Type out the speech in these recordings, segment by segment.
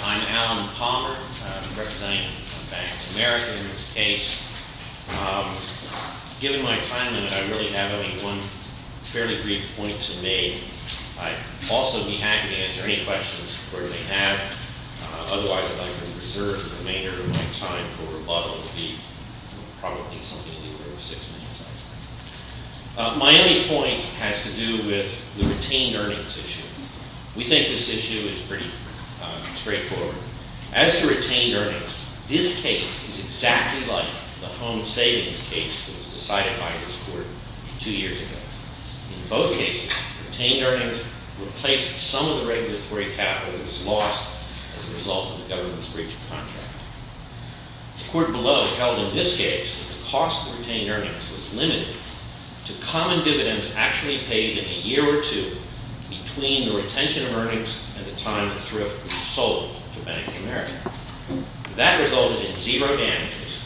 I'm Alan Palmer, representing Bank of America in this case. Given my time limit, I only have one fairly brief point to make. My only point has to do with the retained earnings issue. We think this issue is pretty straightforward. As to retained earnings, this case is exactly like the home savings case that was decided by this court two years ago. In both cases, retained earnings replaced some of the regulatory capital that was lost as a result of the government's breach of contract. The court below held in this case that the cost of retained earnings was limited to common dividends actually paid in a year or two between the retention of earnings and the time that thrift was sold to Bank of America. That resulted in zero damages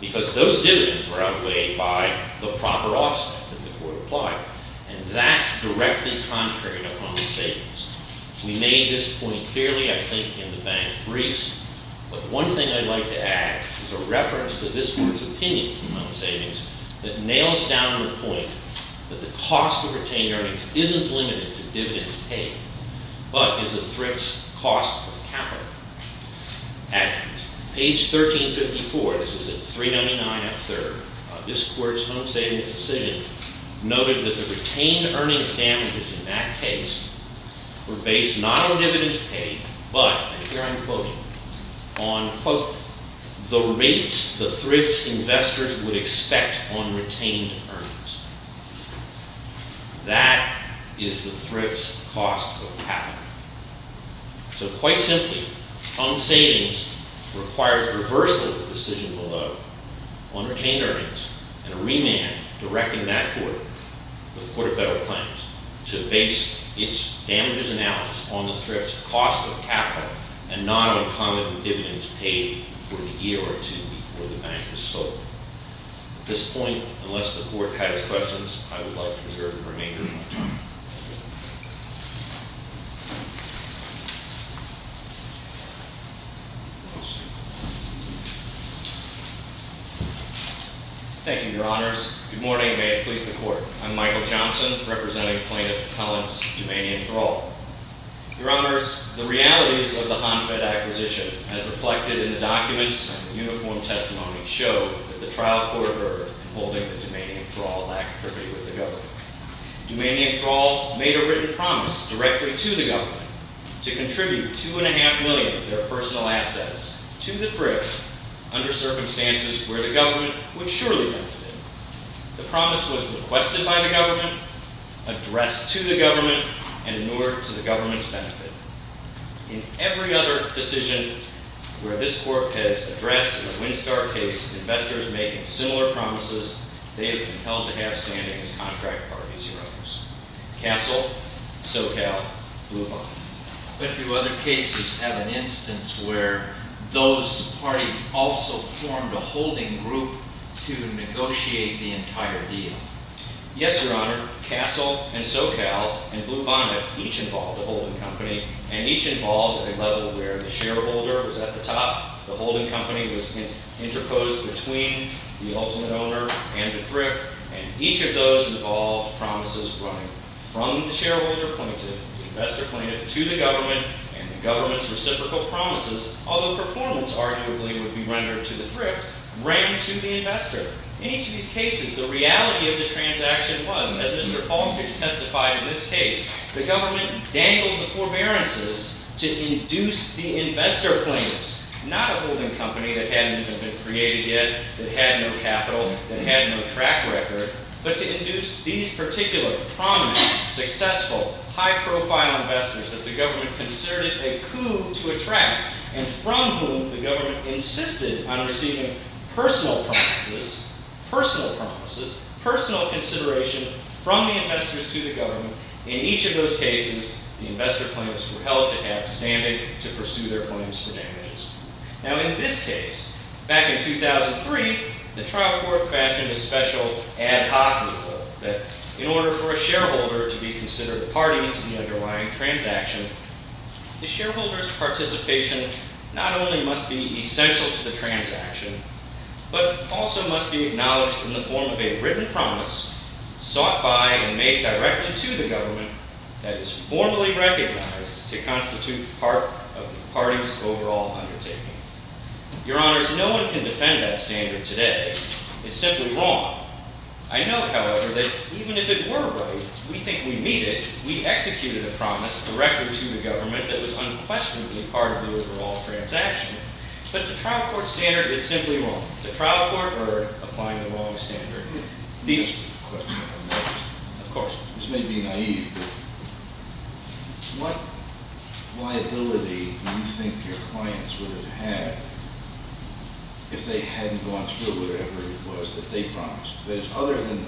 because those dividends were outweighed by the proper offset that the court applied. And that's directly contrary to home savings. We made this point clearly, I think, in the bank's briefs. But one thing I'd like to add is a reference to this court's opinion on home savings that nails down the point that the cost of retained earnings isn't limited to dividends paid but is the thrift's cost of capital. At page 1354, this is at 399F3rd, this court's home savings decision noted that the retained earnings damages in that case were based not on dividends paid but, and here I'm quoting, on, quote, the rates the thrift's investors would expect on retained earnings. That is the thrift's cost of capital. So quite simply, home savings requires reversal of the decision below on retained earnings and a remand directing that court, the Court of Federal Claims, to base its damages analysis on the thrift's cost of capital and not on common dividends paid for the year or two before the bank was sold. At this point, unless the court has questions, I would like to reserve the remainder of my time. Thank you. Thank you, Your Honors. Good morning, and may it please the Court. I'm Michael Johnson, representing Plaintiff Cullen's Dumanian Thrall. Your Honors, the realities of the Hanfed acquisition, as reflected in the documents and uniform testimony, show that the trial court ordered in holding the Dumanian Thrall lack of privity with the government. Dumanian Thrall made a written promise directly to the government to contribute $2.5 million of their personal assets to the thrift under circumstances where the government would surely benefit. The promise was requested by the government, addressed to the government, and inured to the government's benefit. In every other decision where this court has addressed in the Windstar case investors making similar promises, they have been held to have standing as contract parties, Your Honors. Castle, SoCal, Blue Bondit. But do other cases have an instance where those parties also formed a holding group to negotiate the entire deal? Yes, Your Honor. Castle and SoCal and Blue Bondit each involved a holding company, and each involved at a level where the shareholder was at the top, the holding company was interposed between the ultimate owner and the thrift, and each of those involved promises running from the shareholder plaintiff, the investor plaintiff, to the government and the government's reciprocal promises, although performance arguably would be rendered to the thrift, ran to the investor. In each of these cases, the reality of the transaction was, as Mr. Falstich testified in this case, the government dangled the forbearances to induce the investor plaintiffs, not a holding company that hadn't even been created yet, that had no capital, that had no track record, but to induce these particular prominent, successful, high-profile investors that the government considered a coup to attract and from whom the government insisted on receiving personal promises, personal promises, personal consideration from the investors to the government. In each of those cases, the investor plaintiffs were held to have standing to pursue their claims for damages. Now, in this case, back in 2003, the trial court fashioned a special ad hoc rule that, in order for a shareholder to be considered a party to the underlying transaction, the shareholder's participation not only must be essential to the transaction, but also must be acknowledged in the form of a written promise, sought by and made directly to the government that is formally recognized to constitute part of the party's overall undertaking. Your Honors, no one can defend that standard today. It's simply wrong. I know, however, that even if it were right, we think we need it. We executed a promise directly to the government that was unquestionably part of the overall transaction. But the trial court standard is simply wrong. The trial court are applying the wrong standard. The answer to your question is no, of course not. This may be naive, but what liability do you think your clients would have had if they hadn't gone through whatever it was that they promised? That is, other than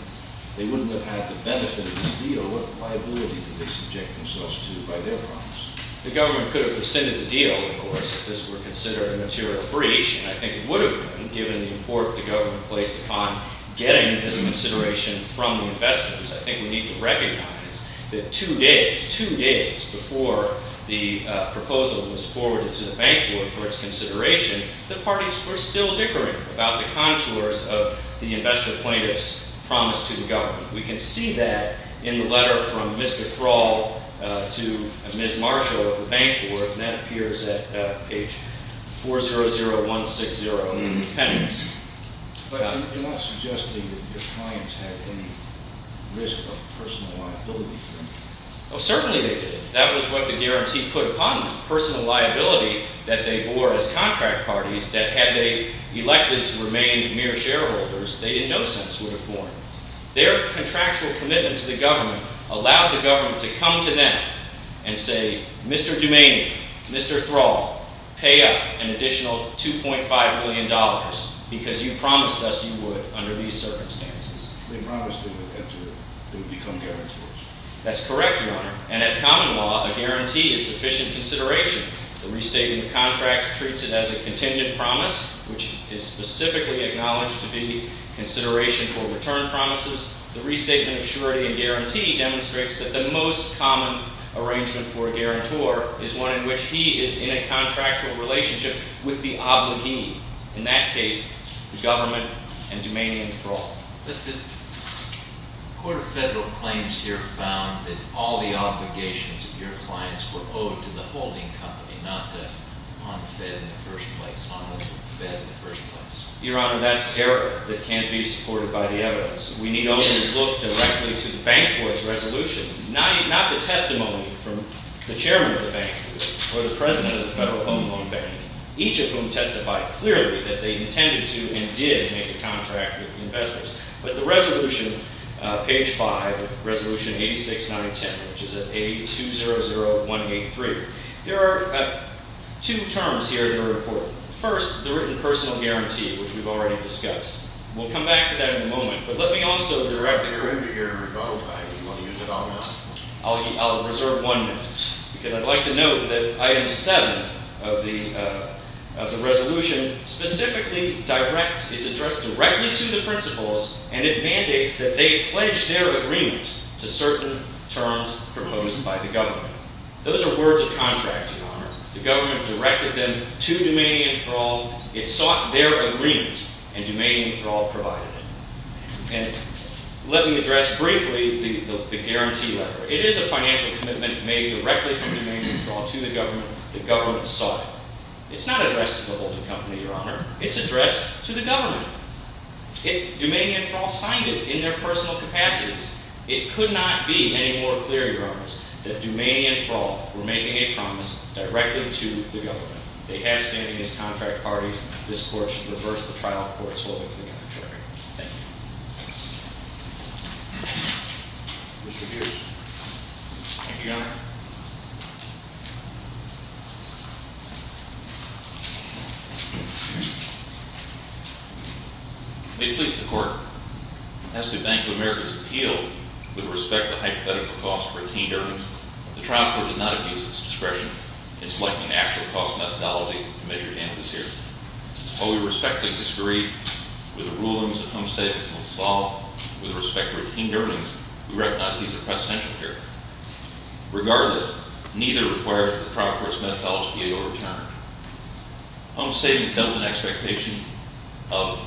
they wouldn't have had the benefit of this deal, what liability did they subject themselves to by their promise? The government could have rescinded the deal, of course, if this were considered a material breach, and I think it would have been, given the import the government placed upon getting this consideration from the investors. I think we need to recognize that two days, two days before the proposal was forwarded to the bank board for its consideration, the parties were still dickering about the contours of the investor plaintiff's promise to the government. We can see that in the letter from Mr. Thrall to Ms. Marshall of the bank board, and that appears at page 400160 in the appendix. But you're not suggesting that your clients had any risk of personal liability for it. Oh, certainly they did. That was what the guarantee put upon them, personal liability that they bore as contract parties, that had they elected to remain mere shareholders, they in no sense would have borne. Their contractual commitment to the government allowed the government to come to them and say, Mr. Dumaney, Mr. Thrall, pay up an additional $2.5 million because you promised us you would under these circumstances. They promised they would enter, they would become guarantors. That's correct, Your Honor. And at common law, a guarantee is sufficient consideration. The restatement of contracts treats it as a contingent promise, which is specifically acknowledged to be consideration for return promises. The restatement of surety and guarantee demonstrates that the most common arrangement for a guarantor is one in which he is in a contractual relationship with the obligee. In that case, the government and Dumaney and Thrall. But the Court of Federal Claims here found that all the obligations of your clients were owed to the holding company, not the unfed in the first place, unfed in the first place. Your Honor, that's error that can't be supported by the evidence. We need only look directly to the bank board's resolution, not the testimony from the chairman of the bank or the president of the Federal Home Loan Bank, each of whom testified clearly that they intended to and did make a contract with the investment. But the resolution, page 5 of Resolution 86910, which is at 8200183, there are two terms here in the report. First, the written personal guarantee, which we've already discussed. We'll come back to that in a moment. But let me also direct the Court— You're going to hear a rebuttal. Do you want to use it all now? I'll reserve one minute because I'd like to note that item 7 of the resolution specifically directs— it's addressed directly to the principals, and it mandates that they pledge their agreement to certain terms proposed by the government. Those are words of contract, Your Honor. The government directed them to Dumaney and Thrall. It sought their agreement, and Dumaney and Thrall provided it. And let me address briefly the guarantee letter. It is a financial commitment made directly from Dumaney and Thrall to the government. The government sought it. It's not addressed to the holding company, Your Honor. It's addressed to the government. Dumaney and Thrall signed it in their personal capacities. It could not be any more clear, Your Honors, that Dumaney and Thrall were making a promise directly to the government. They have standing as contract parties. This Court should reverse the trial court's holding to the contrary. Thank you. Mr. Hughes. Thank you, Your Honor. May it please the Court. As to Bank of America's appeal with respect to hypothetical costs for retained earnings, the trial court did not abuse its discretion in selecting an actual cost methodology to measure damages here. While we respectfully disagree with the rulings that home savings will solve with respect to retained earnings, we recognize these are presidential here. Regardless, neither requires that the trial court's methodology be overturned. Home savings dealt with an expectation of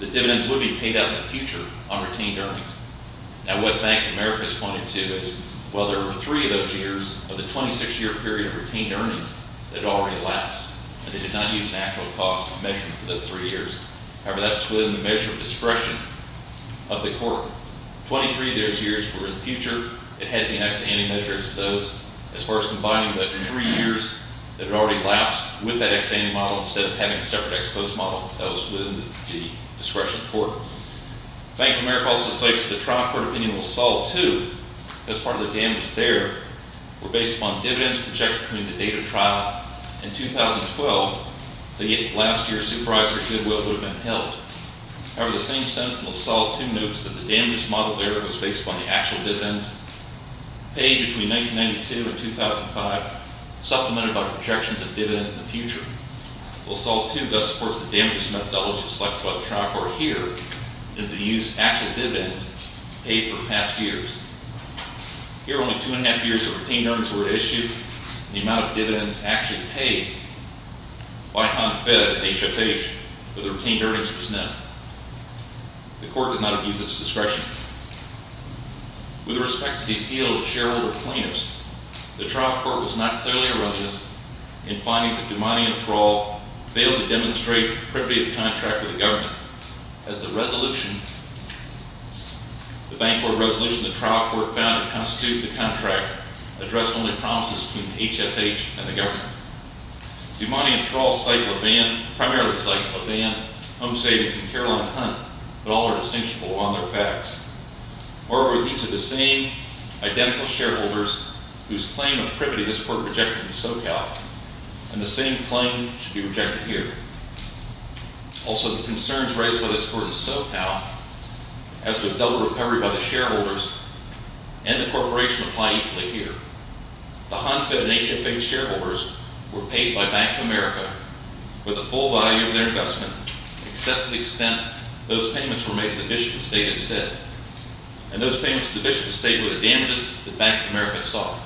that dividends would be paid out in the future on retained earnings. Now, what Bank of America has pointed to is, well, there were three of those years of the 26-year period of retained earnings that had already elapsed, and they did not use an actual cost measurement for those three years. However, that was within the measure of discretion of the court. Twenty-three of those years were in the future. It had the ex-ante measures of those. As far as combining the three years that had already elapsed with that ex-ante model instead of having a separate ex-post model, that was within the discretion of the court. Bank of America also states that the trial court opinion will solve, too, as part of the damages there, were based upon dividends projected between the date of trial and 2012, the year last year Supervisor Goodwill would have been held. However, the same sentence in will solve, too, notes that the damages model there was based upon the actual dividends paid between 1992 and 2005, supplemented by projections of dividends in the future. Will solve, too, thus supports the damages methodology selected by the trial court here, and the use of actual dividends paid for past years. Here, only two-and-a-half years of retained earnings were issued, and the amount of dividends actually paid by HONFED, HFH, for the retained earnings was known. The court did not abuse its discretion. With respect to the appeal of the shareholder plaintiffs, the trial court was not clearly erroneous in finding that DuMonte and Thrall failed to demonstrate appropriate contract with the government, as the bank board resolution the trial court found to constitute the contract addressed only promises between HFH and the government. DuMonte and Thrall cite Levin, primarily cite Levin, Homesavings, and Caroline Hunt, but all are distinguishable on their facts. Moreover, these are the same, identical shareholders whose claim of privity this court rejected in SoCal, and the same claim should be rejected here. Also, the concerns raised by this court in SoCal as to a double recovery by the shareholders and the corporation apply equally here. The HONFED and HFH shareholders were paid by Bank of America with the full value of their investment, except to the extent those payments were made to the Bishop Estate instead. And those payments to the Bishop Estate were the damages that Bank of America saw.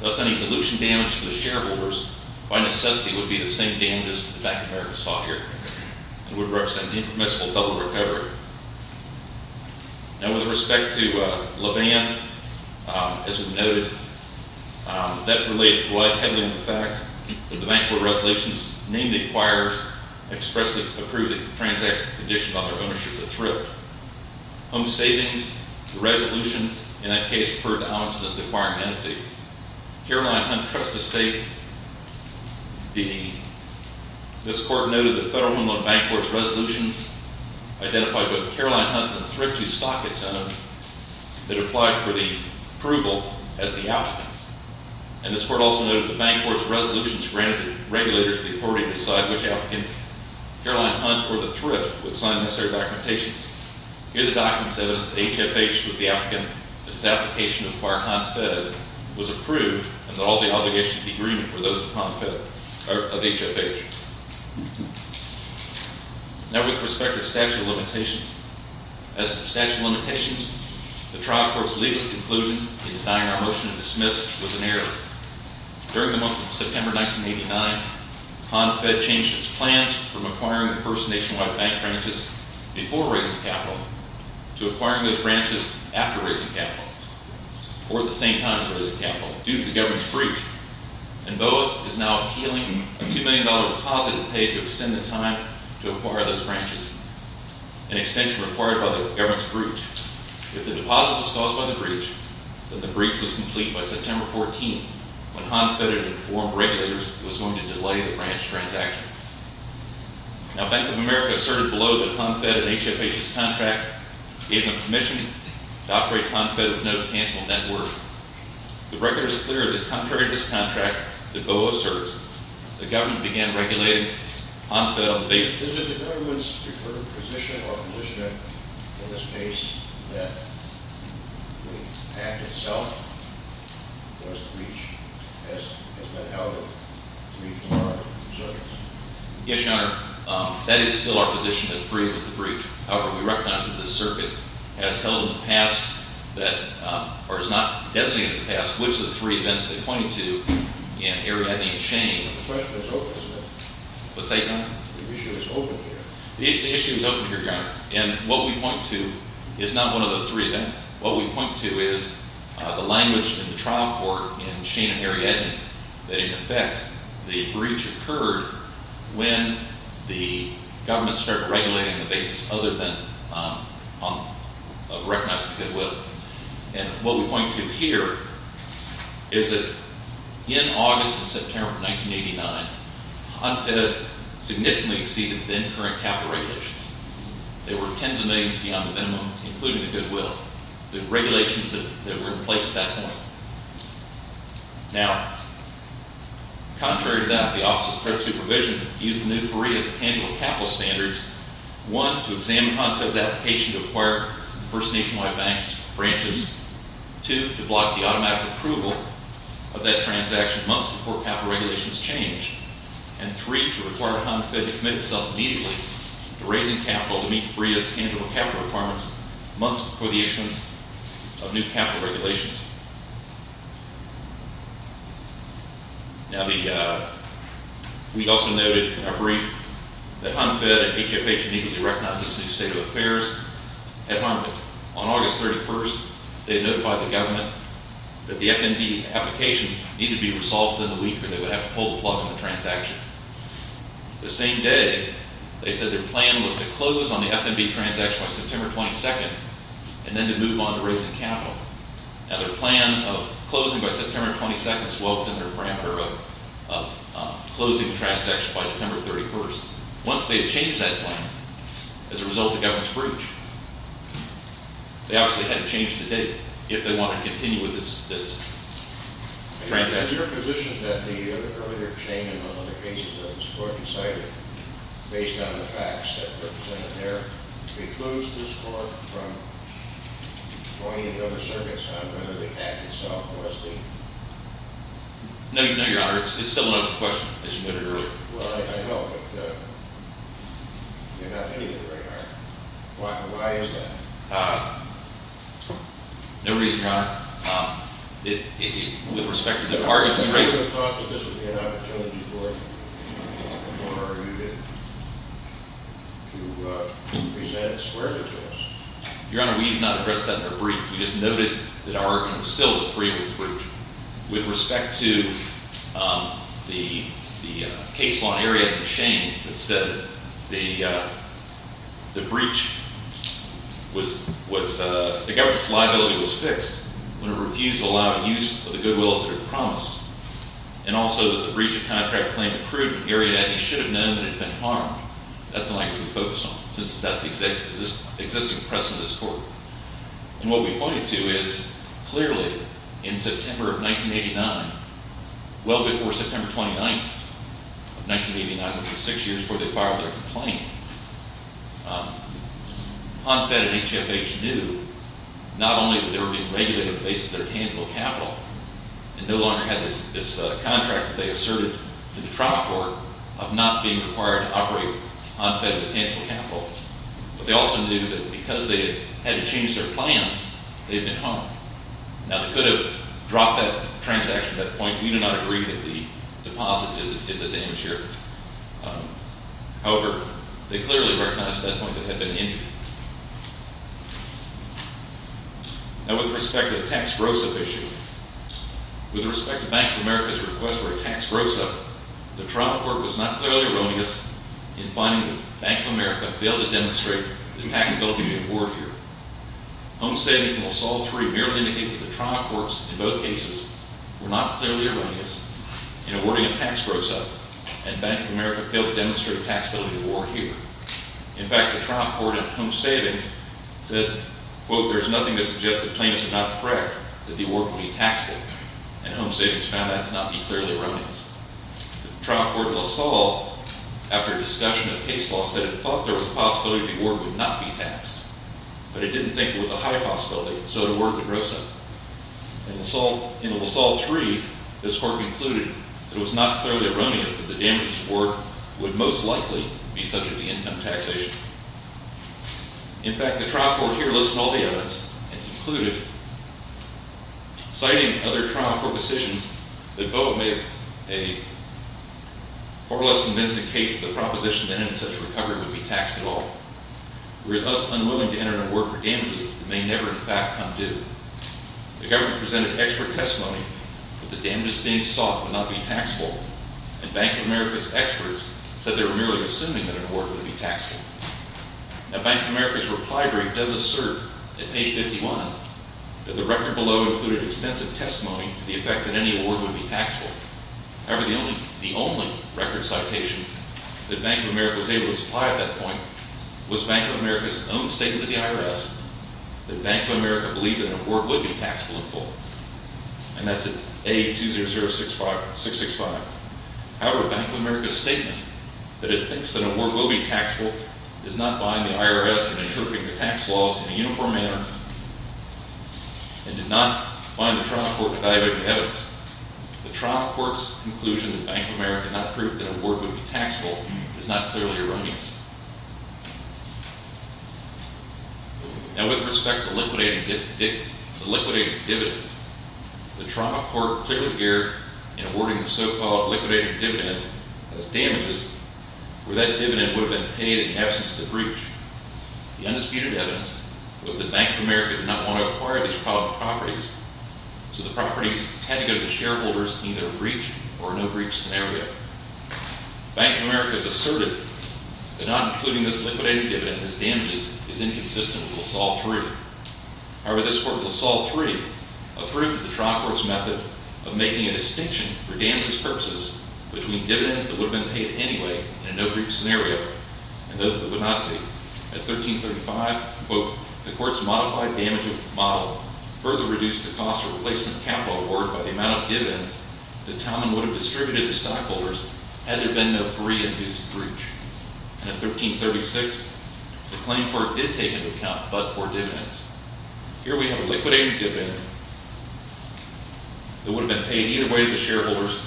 Thus, any dilution damage to the shareholders, by necessity, would be the same damages that Bank of America saw here. It would represent an impermissible double recovery. Now, with respect to Levin, as noted, that relates heavily to the fact that the bank board resolutions, name the acquirers, expressly approve the transaction condition on their ownership of the thrift. Homesavings, the resolutions, in that case, referred to Amundsen as the acquiring entity. Caroline Hunt, Trust Estate, this court noted that federal and bank board resolutions identified both Caroline Hunt and thrifty stock its own that applied for the approval as the outcomes. And this court also noted that the bank board's resolutions granted the regulators the authority to decide which applicant, Caroline Hunt, or the thrift, would sign necessary documentations. Here, the documents evidence that HFH was the applicant, that his application to acquire HONFED was approved, and that all the obligations of the agreement were those of HONFED, or of HFH. Now, with respect to statute of limitations, as to statute of limitations, the trial court's legal conclusion in denying our motion to dismiss was an error. During the month of September 1989, HONFED changed its plans from acquiring the first nationwide bank branches before raising capital, to acquiring those branches after raising capital, or at the same time as raising capital, due to the government's breach. And BOA is now appealing a $2 million deposit an extension required by the government's breach. If the deposit was caused by the breach, then the breach was complete by September 14, when HONFED had informed regulators it was going to delay the branch transaction. Now, Bank of America asserted below that HONFED and HFH's contract gave them permission to operate HONFED with no tangible network. The record is clear that contrary to this contract, that BOA asserts, the government began regulating HONFED on the basis... Is it the government's preferred position or position in this case that the act itself was the breach, as has been held in three prior circuits? Yes, Your Honor. That is still our position that the breach was the breach. However, we recognize that this circuit has held in the past that, or is not designated in the past, which of the three events they pointed to in Ariadne and Shane... The question is open, isn't it? What's that, Your Honor? The issue is open here. The issue is open here, Your Honor. And what we point to is not one of those three events. What we point to is the language in the trial court in Shane and Ariadne that, in effect, the breach occurred when the government started regulating on the basis other than recognizing goodwill. And what we point to here is that in August and September of 1989, HONFED significantly exceeded then-current capital regulations. There were tens of millions beyond the minimum, including the goodwill. The regulations that were in place at that point. Now, contrary to that, the Office of Credit Supervision used the new three tangible capital standards, one, to examine HONFED's application to acquire First Nationwide Bank's branches, two, to block the automatic approval of that transaction months before capital regulations changed. And three, to require HONFED to commit itself immediately to raising capital to meet FREIA's tangible capital requirements months before the issuance of new capital regulations. Now, we also noted in our brief that HONFED and HFH immediately recognized this new state of affairs at Harman. On August 31st, they notified the government that the FND application needed to be resolved within the week or they would have to pull the plug on the transaction. The same day, they said their plan was to close on the FNB transaction by September 22nd and then to move on to raising capital. Now, their plan of closing by September 22nd is well within their parameter of closing the transaction by December 31st. Once they had changed that plan, as a result of Governor Scrooge, they obviously had to change the date if they wanted to continue with this transaction. Is your position that the earlier change in one of the cases that Governor Scrooge cited based on the facts that were presented there precludes this court from going into other circuits on whether they hacked itself or SD? No, Your Honor. It's a similar question as you noted earlier. Well, I know, but you're not hitting it very hard. Why is that? No reason, Your Honor. Your Honor, we did not address that in our brief. We just noted that our argument was still that the preamble was breached. With respect to the case law in the area of McShane that said the breach was... It's not true. It's not true. ...when it refused to allow use of the goodwills that it promised and also that the breach of contract claim accrued in the area and he should have known that it had been harmed. That's the language we focus on, since that's the existing precedent of this court. And what we pointed to is, clearly, in September of 1989, well before September 29th of 1989, which was six years before they filed their complaint, HONFED and HFH knew not only that they were being regulated based on their tangible capital and no longer had this contract that they asserted in the trial court of not being required to operate HONFED with tangible capital, but they also knew that because they had to change their plans, they had been harmed. Now, they could have dropped that transaction at that point. We do not agree that the deposit is at the insurer. However, they clearly recognized at that point that they had been injured. Now, with respect to the tax gross-up issue, with respect to Bank of America's request for a tax gross-up, the trial court was not clearly erroneous in finding that Bank of America failed to demonstrate its taxability to the awardeer. HONFED statements in all three merely indicate that the trial courts in both cases were not clearly erroneous in awarding a tax gross-up and Bank of America failed to demonstrate a taxability award here. In fact, the trial court in Home Savings said, quote, there is nothing to suggest that plaintiffs are not correct, that the award would be taxable, and Home Savings found that to not be clearly erroneous. The trial court in LaSalle, after discussion of case law, said it thought there was a possibility the award would not be taxed, but it didn't think it was a high possibility, so the award would be gross-up. In LaSalle 3, this court concluded that it was not clearly erroneous that the damages award would most likely be subject to income taxation. In fact, the trial court here listed all the evidence and concluded, citing other trial court decisions, that both made a far less convincing case that the proposition that any such recovery would be taxed at all. We are thus unwilling to enter into work for damages that may never in fact come due. The government presented expert testimony that the damages being sought would not be taxable, and Bank of America's experts said they were merely assuming that an award would be taxable. Now, Bank of America's reply brief does assert, at page 51, that the record below included extensive testimony to the effect that any award would be taxable. However, the only record citation that Bank of America was able to supply at that point was Bank of America's own statement to the IRS that Bank of America believed that an award would be taxable in full. And that's at A200665. However, Bank of America's statement that it thinks that an award will be taxable does not bind the IRS in interpreting the tax laws in a uniform manner and did not bind the trial court to evaluating the evidence. The trial court's conclusion that Bank of America did not prove that an award would be taxable is not clearly erroneous. Now, with respect to the liquidated dividend, the trial court clearly erred in awarding the so-called liquidated dividend as damages where that dividend would have been paid in absence of the breach. The undisputed evidence was that Bank of America did not want to acquire these properties, so the properties had to go to the shareholders in either a breach or a no-breach scenario. Bank of America has asserted that not including this liquidated dividend as damages is inconsistent with LaSalle 3. However, this court in LaSalle 3 approved the trial court's method of making a distinction for damages purposes between dividends that would have been paid anyway in a no-breach scenario and those that would not be. At A1335, quote, the court's modified damage model further reduced the cost of replacement capital award by the amount of dividends that Talman would have distributed to stockholders had there been no breach. And at A1336, the claim court did take into account but for dividends. Here we have a liquidated dividend that would have been paid either way to the shareholders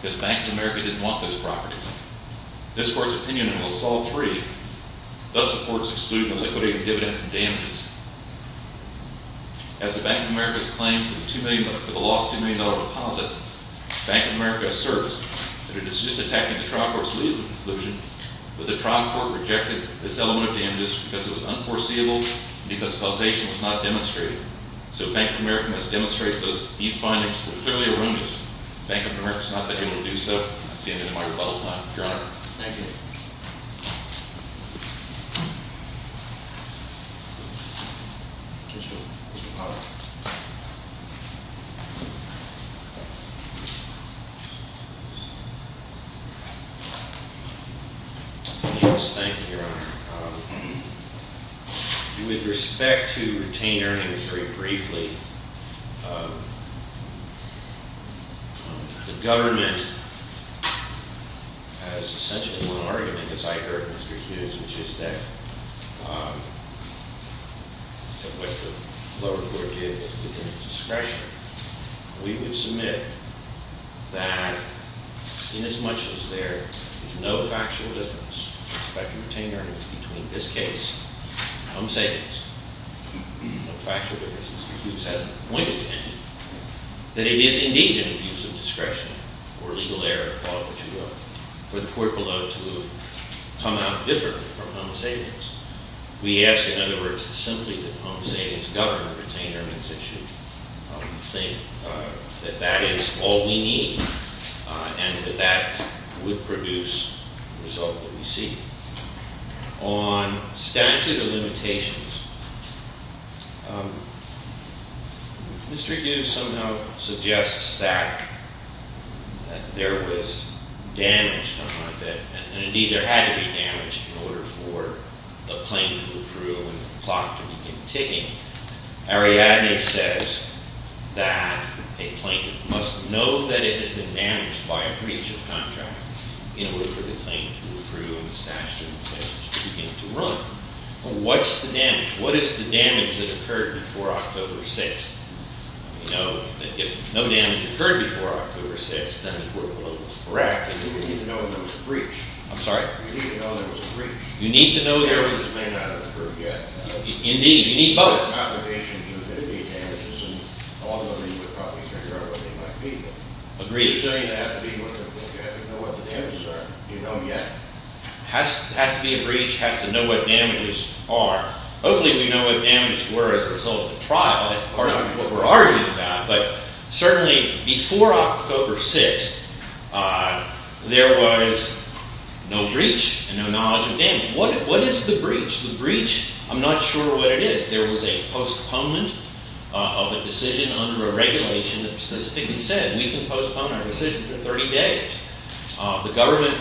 because Bank of America didn't want those properties. This court's opinion in LaSalle 3 thus supports excluding the liquidated dividend from damages. As the Bank of America's claim for the lost $2 million deposit, Bank of America asserts that it is just attacking the trial court's legal conclusion that the trial court rejected this element of damages because it was unforeseeable and because causation was not demonstrated. So Bank of America must demonstrate that these findings were clearly erroneous. Bank of America has not been able to do so since the end of my rebuttal time. Your Honor. Thank you. Mr. Powell. Yes, thank you, Your Honor. With respect to retained earnings, very briefly, the government has essentially won an argument, as I heard Mr. Hughes, which is that what the lower court did was within its discretion. We would submit that inasmuch as there is no factual difference in respect to retained earnings between this case and home savings, no factual difference, Mr. Hughes has a point of tension that it is indeed an abuse of discretion or legal error for the court below to have come out differently from home savings. We ask, in other words, simply that the home savings government retain earnings issue. We think that that is all we need and that that would produce the result that we see. On statute of limitations, Mr. Hughes somehow suggests that there was damage done like that, and indeed there had to be damage in order for the claim to approve and the clock to begin ticking. Ariadne says that a plaintiff must know that it has been damaged by a breach of contract in order for the claim to approve and the statute of limitations to begin to run. What's the damage? What is the damage that occurred before October 6th? We know that if no damage occurred before October 6th, then the court below was correct. We didn't even know there was a breach. I'm sorry? We didn't even know there was a breach. You need to know there was a breach. The damages may not have been approved yet. Indeed, you need both. The statute of limitations would then be damages, and all of these would probably figure out what they might be. Agreed. So you have to know what the damages are. Do you know yet? It has to be a breach. It has to know what damages are. Hopefully we know what damages were as a result of the trial. That's part of what we're arguing about. But certainly before October 6th, there was no breach and no knowledge of damage. What is the breach? The breach, I'm not sure what it is. There was a postponement of a decision under a regulation that specifically said we can postpone our decision for 30 days. The government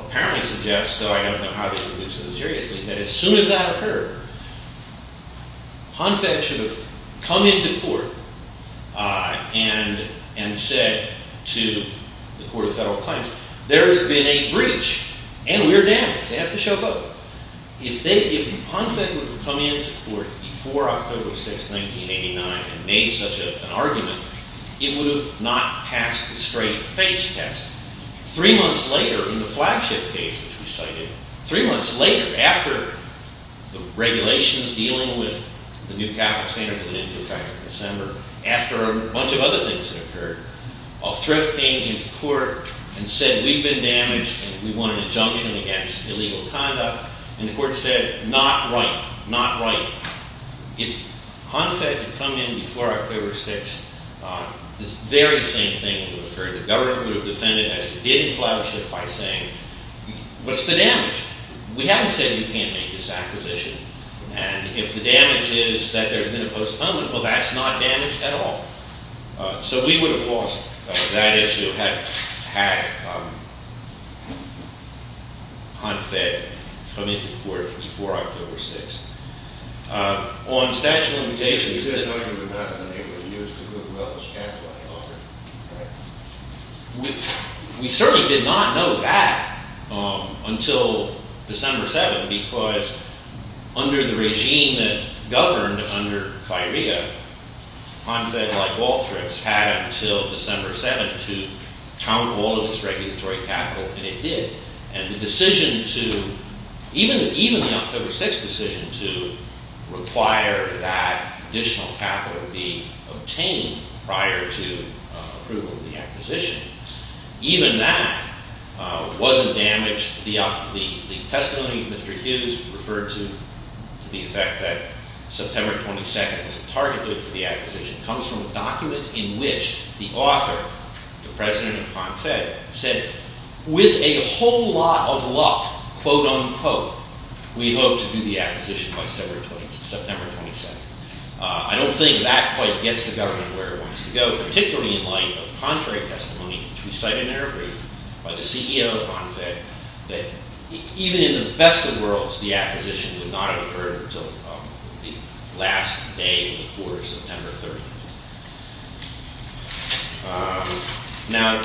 apparently suggests, though I don't know how they took this seriously, that as soon as that occurred, HONFEC should have come into court and said to the Court of Federal Claims, there has been a breach and we're damaged. They have to show both. If HONFEC would have come into court before October 6th, 1989 and made such an argument, it would have not passed the straight face test. Three months later, in the flagship case which we cited, three months later, after the regulations dealing with the new capital standards had been in effect in December, after a bunch of other things had occurred, HONFEC came to court and said we've been damaged and we want an injunction against illegal conduct. And the court said, not right, not right. If HONFEC had come in before October 6th, the very same thing would have occurred. The government would have defended as it did in flagship by saying, what's the damage? We haven't said you can't make this acquisition. And if the damage is that there's been a postponement, well, that's not damage at all. So we would have lost. That issue had HONFEC come into court before October 6th. On statute of limitations, you said HONFEC would not have been able to use the Google We certainly did not know that until December 7th because under the regime that governed under FIREA, HONFEC, like Waltrax, had until December 7th to count all of its regulatory capital. And it did. to require that additional capital be obtained prior to approval of the acquisition. Even that wasn't damaged. The testimony of Mr. Hughes referred to the effect that September 22nd was targeted for the acquisition comes from a document in which the author, the president of HONFEC, said, with a whole lot of luck, quote, unquote, we hope to do the acquisition by September 22nd. I don't think that quite gets the government where it wants to go, particularly in light of contrary testimony which we cite in our brief by the CEO of HONFEC that even in the best of worlds, the acquisition would not have occurred until the last day of the quarter, September 30th. Now,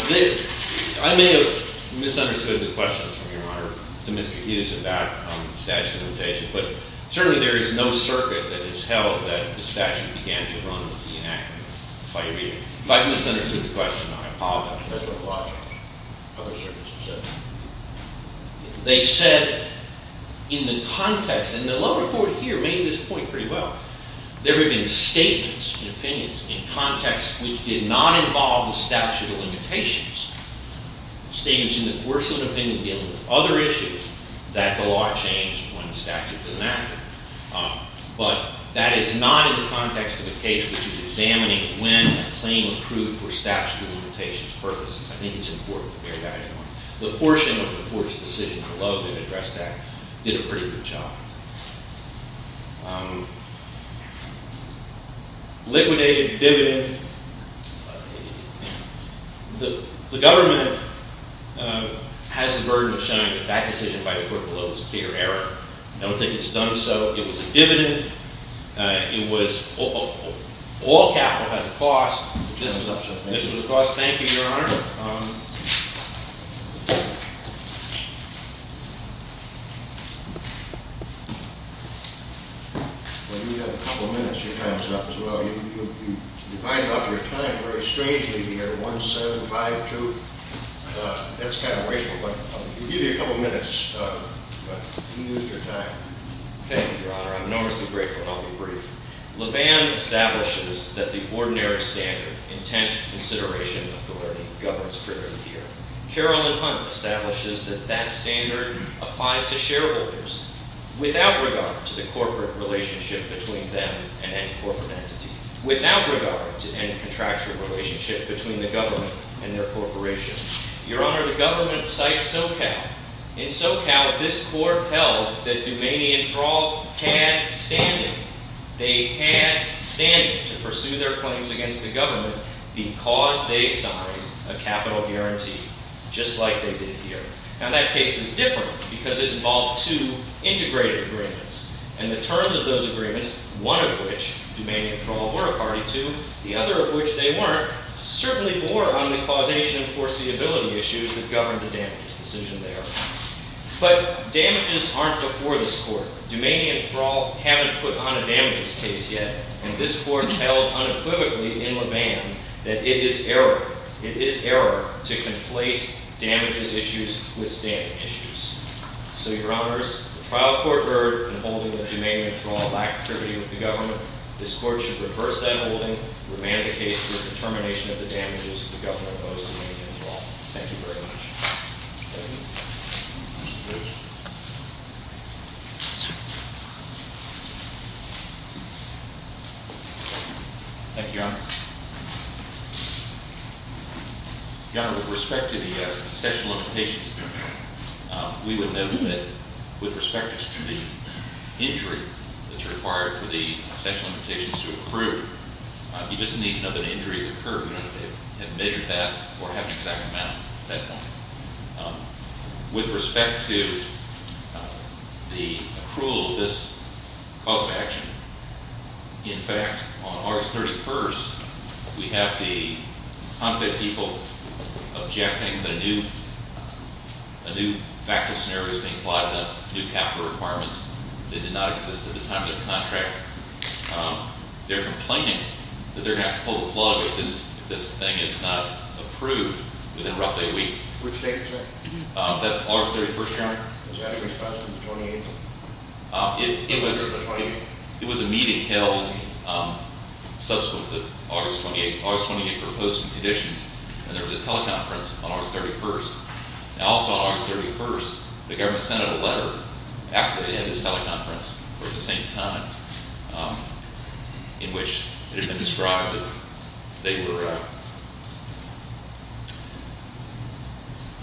I may have misunderstood the questions from Your Honor to Mr. Hughes about statute of limitations. But certainly there is no circuit that has held that the statute began to run with the enactment of FIREA. If I misunderstood the question, I apologize. That's what a lot of other circuits have said. They said in the context, and the lower court here made this point pretty well, there have been statements and opinions in contexts which did not involve the statute of limitations. Statements in the course of an opinion dealing with other issues that the law changed when the statute was enacted. But that is not in the context of a case which is examining when a claim accrued for statute of limitations purposes. I think it's important to bear that in mind. The portion of the court's decision below that addressed that did a pretty good job. Liquidated dividend. The government has the burden of showing that that decision by the court below was a clear error. I don't think it's done so. It was a dividend. All capital has a cost. This was a cost. Thank you, Your Honor. You have a couple of minutes. Your time is up as well. You divided up your time very strangely to get a 1-7-5-2. That's kind of wasteful, but we'll give you a couple of minutes. You used your time. Thank you, Your Honor. I'm enormously grateful, and I'll be brief. Levan establishes that the ordinary standard, intent, consideration, authority, governs privilege here. Carolyn Hunt establishes that that standard applies to shareholders without regard to the corporate relationship between them and any corporate entity, without regard to any contractual relationship between the government and their corporation. Your Honor, the government cites SoCal. In SoCal, this court held that Dumanian Thrall can't stand it. They can't stand it to pursue their claims against the government because they signed a capital guarantee, just like they did here. Now, that case is different because it involved two integrated agreements, and the terms of those agreements, one of which, Dumanian Thrall were a party to, the other of which they weren't, certainly bore on the causation and foreseeability issues that governed the damages decision there. But damages aren't before this court. Dumanian Thrall haven't put on a damages case yet, and this court held unequivocally in Levan that it is error, it is error to conflate damages issues with standing issues. So, Your Honors, the trial court heard in holding that Dumanian Thrall backed privity with the government. This court should reverse that holding, remand the case for the determination of the damages the government owes Dumanian Thrall. Thank you very much. Thank you, Your Honor. Your Honor, with respect to the sexual limitations, we would note that, with respect to the injury that's required for the sexual limitations to approve, you just need to know that an injury occurred, you don't have to have measured that or have an exact amount at that point. With respect to the approval of this cause of action, in fact, on August 31st, we have the new factual scenarios being applied about new capital requirements that did not exist at the time of the contract. They're complaining that they're going to have to pull the plug if this thing is not approved within roughly a week. Which date, sir? That's August 31st, Your Honor. Did you have a response from the 28th? It was a meeting held subsequent to August 28th. August 28th proposed some conditions, and there was a teleconference on August 31st. Now, also on August 31st, the government sent out a letter after they had this teleconference for the same time, in which it had been described that they were...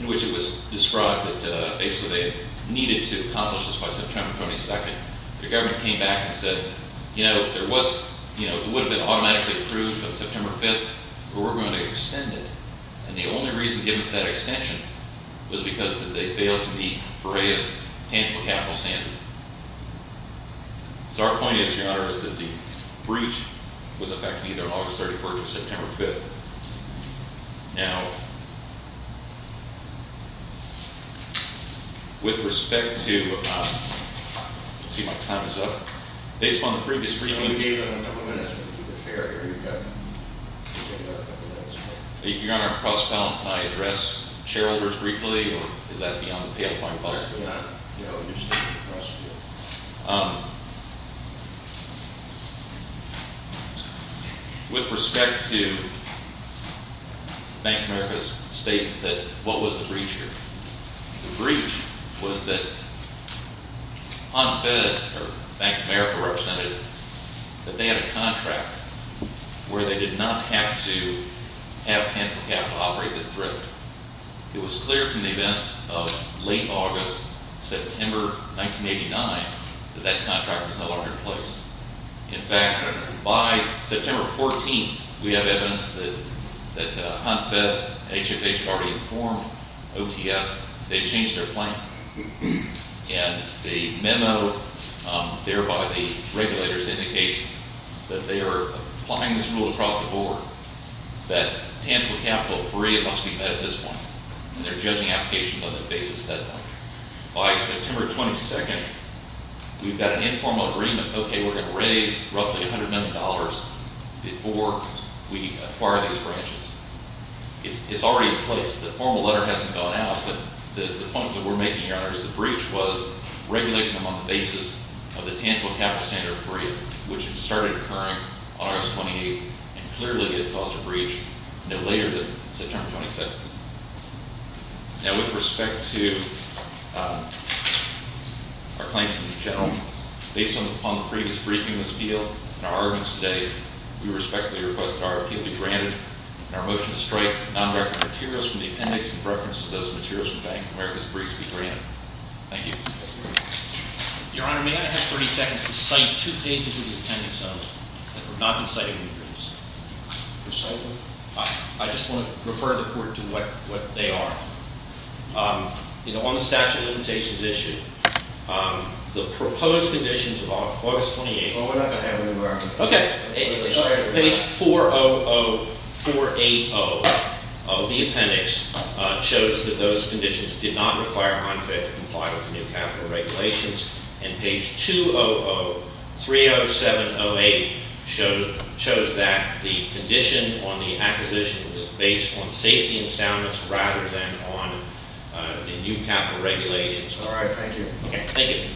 in which it was described that basically they needed to accomplish this by September 22nd. The government came back and said, you know, there was... it would have been automatically approved on September 5th, but we're going to extend it. And the only reason given for that extension was because they failed to meet Brea's tangible capital standard. So our point is, Your Honor, is that the breach was effective either on August 31st or September 5th. Now... with respect to... let's see if my time is up. Based on the previous... We gave them a number of minutes.... Your Honor, can I address shareholders briefly? With respect to Bank of America's statement that what was the breach here. The breach was that unfed, or Bank of America represented, that they had a contract where they did not have to have to operate this drug. It was clear from the events of late August, September 1989 that that contract was no longer in place. In fact, by September 14th, we have evidence that HUNFED, HFH had already informed OTS they'd changed their plan. And the memo there by the regulators indicates that they are applying this rule across the board that tangible capital free, it must be met at this point. And they're judging applications on the basis that by September 22nd, we've got an informal agreement, okay, we're going to raise roughly $100 million before we acquire these branches. It's already in place. The formal letter hasn't gone out, but the point that we're making, Your Honor, is the breach was regulated on the basis of the tangible capital standard which started occurring on August 28th, and clearly it caused a breach no later than September 27th. Now with respect to our claims in general, based on the previous briefing in this field and our arguments today, we respectfully request that our appeal be granted, and our motion to strike non-recorded materials from the appendix in reference to those materials be granted. Thank you. Your Honor, may I have 30 seconds to cite two pages of the appendix only that have not been cited in the briefs? Recite them. I just want to refer the court to what they are. You know, on the statute of limitations issue, the proposed conditions of August 28th... Well, we're not going to have an American... Okay. Page 4-0-0-4-8-0 of the appendix shows that those conditions did not require HMFA to comply with new capital regulations, and page 2-0-0-3-0-7-0-8 shows that the condition on the acquisition was based on safety and soundness rather than on the new capital regulations. All right. Thank you. Thank you.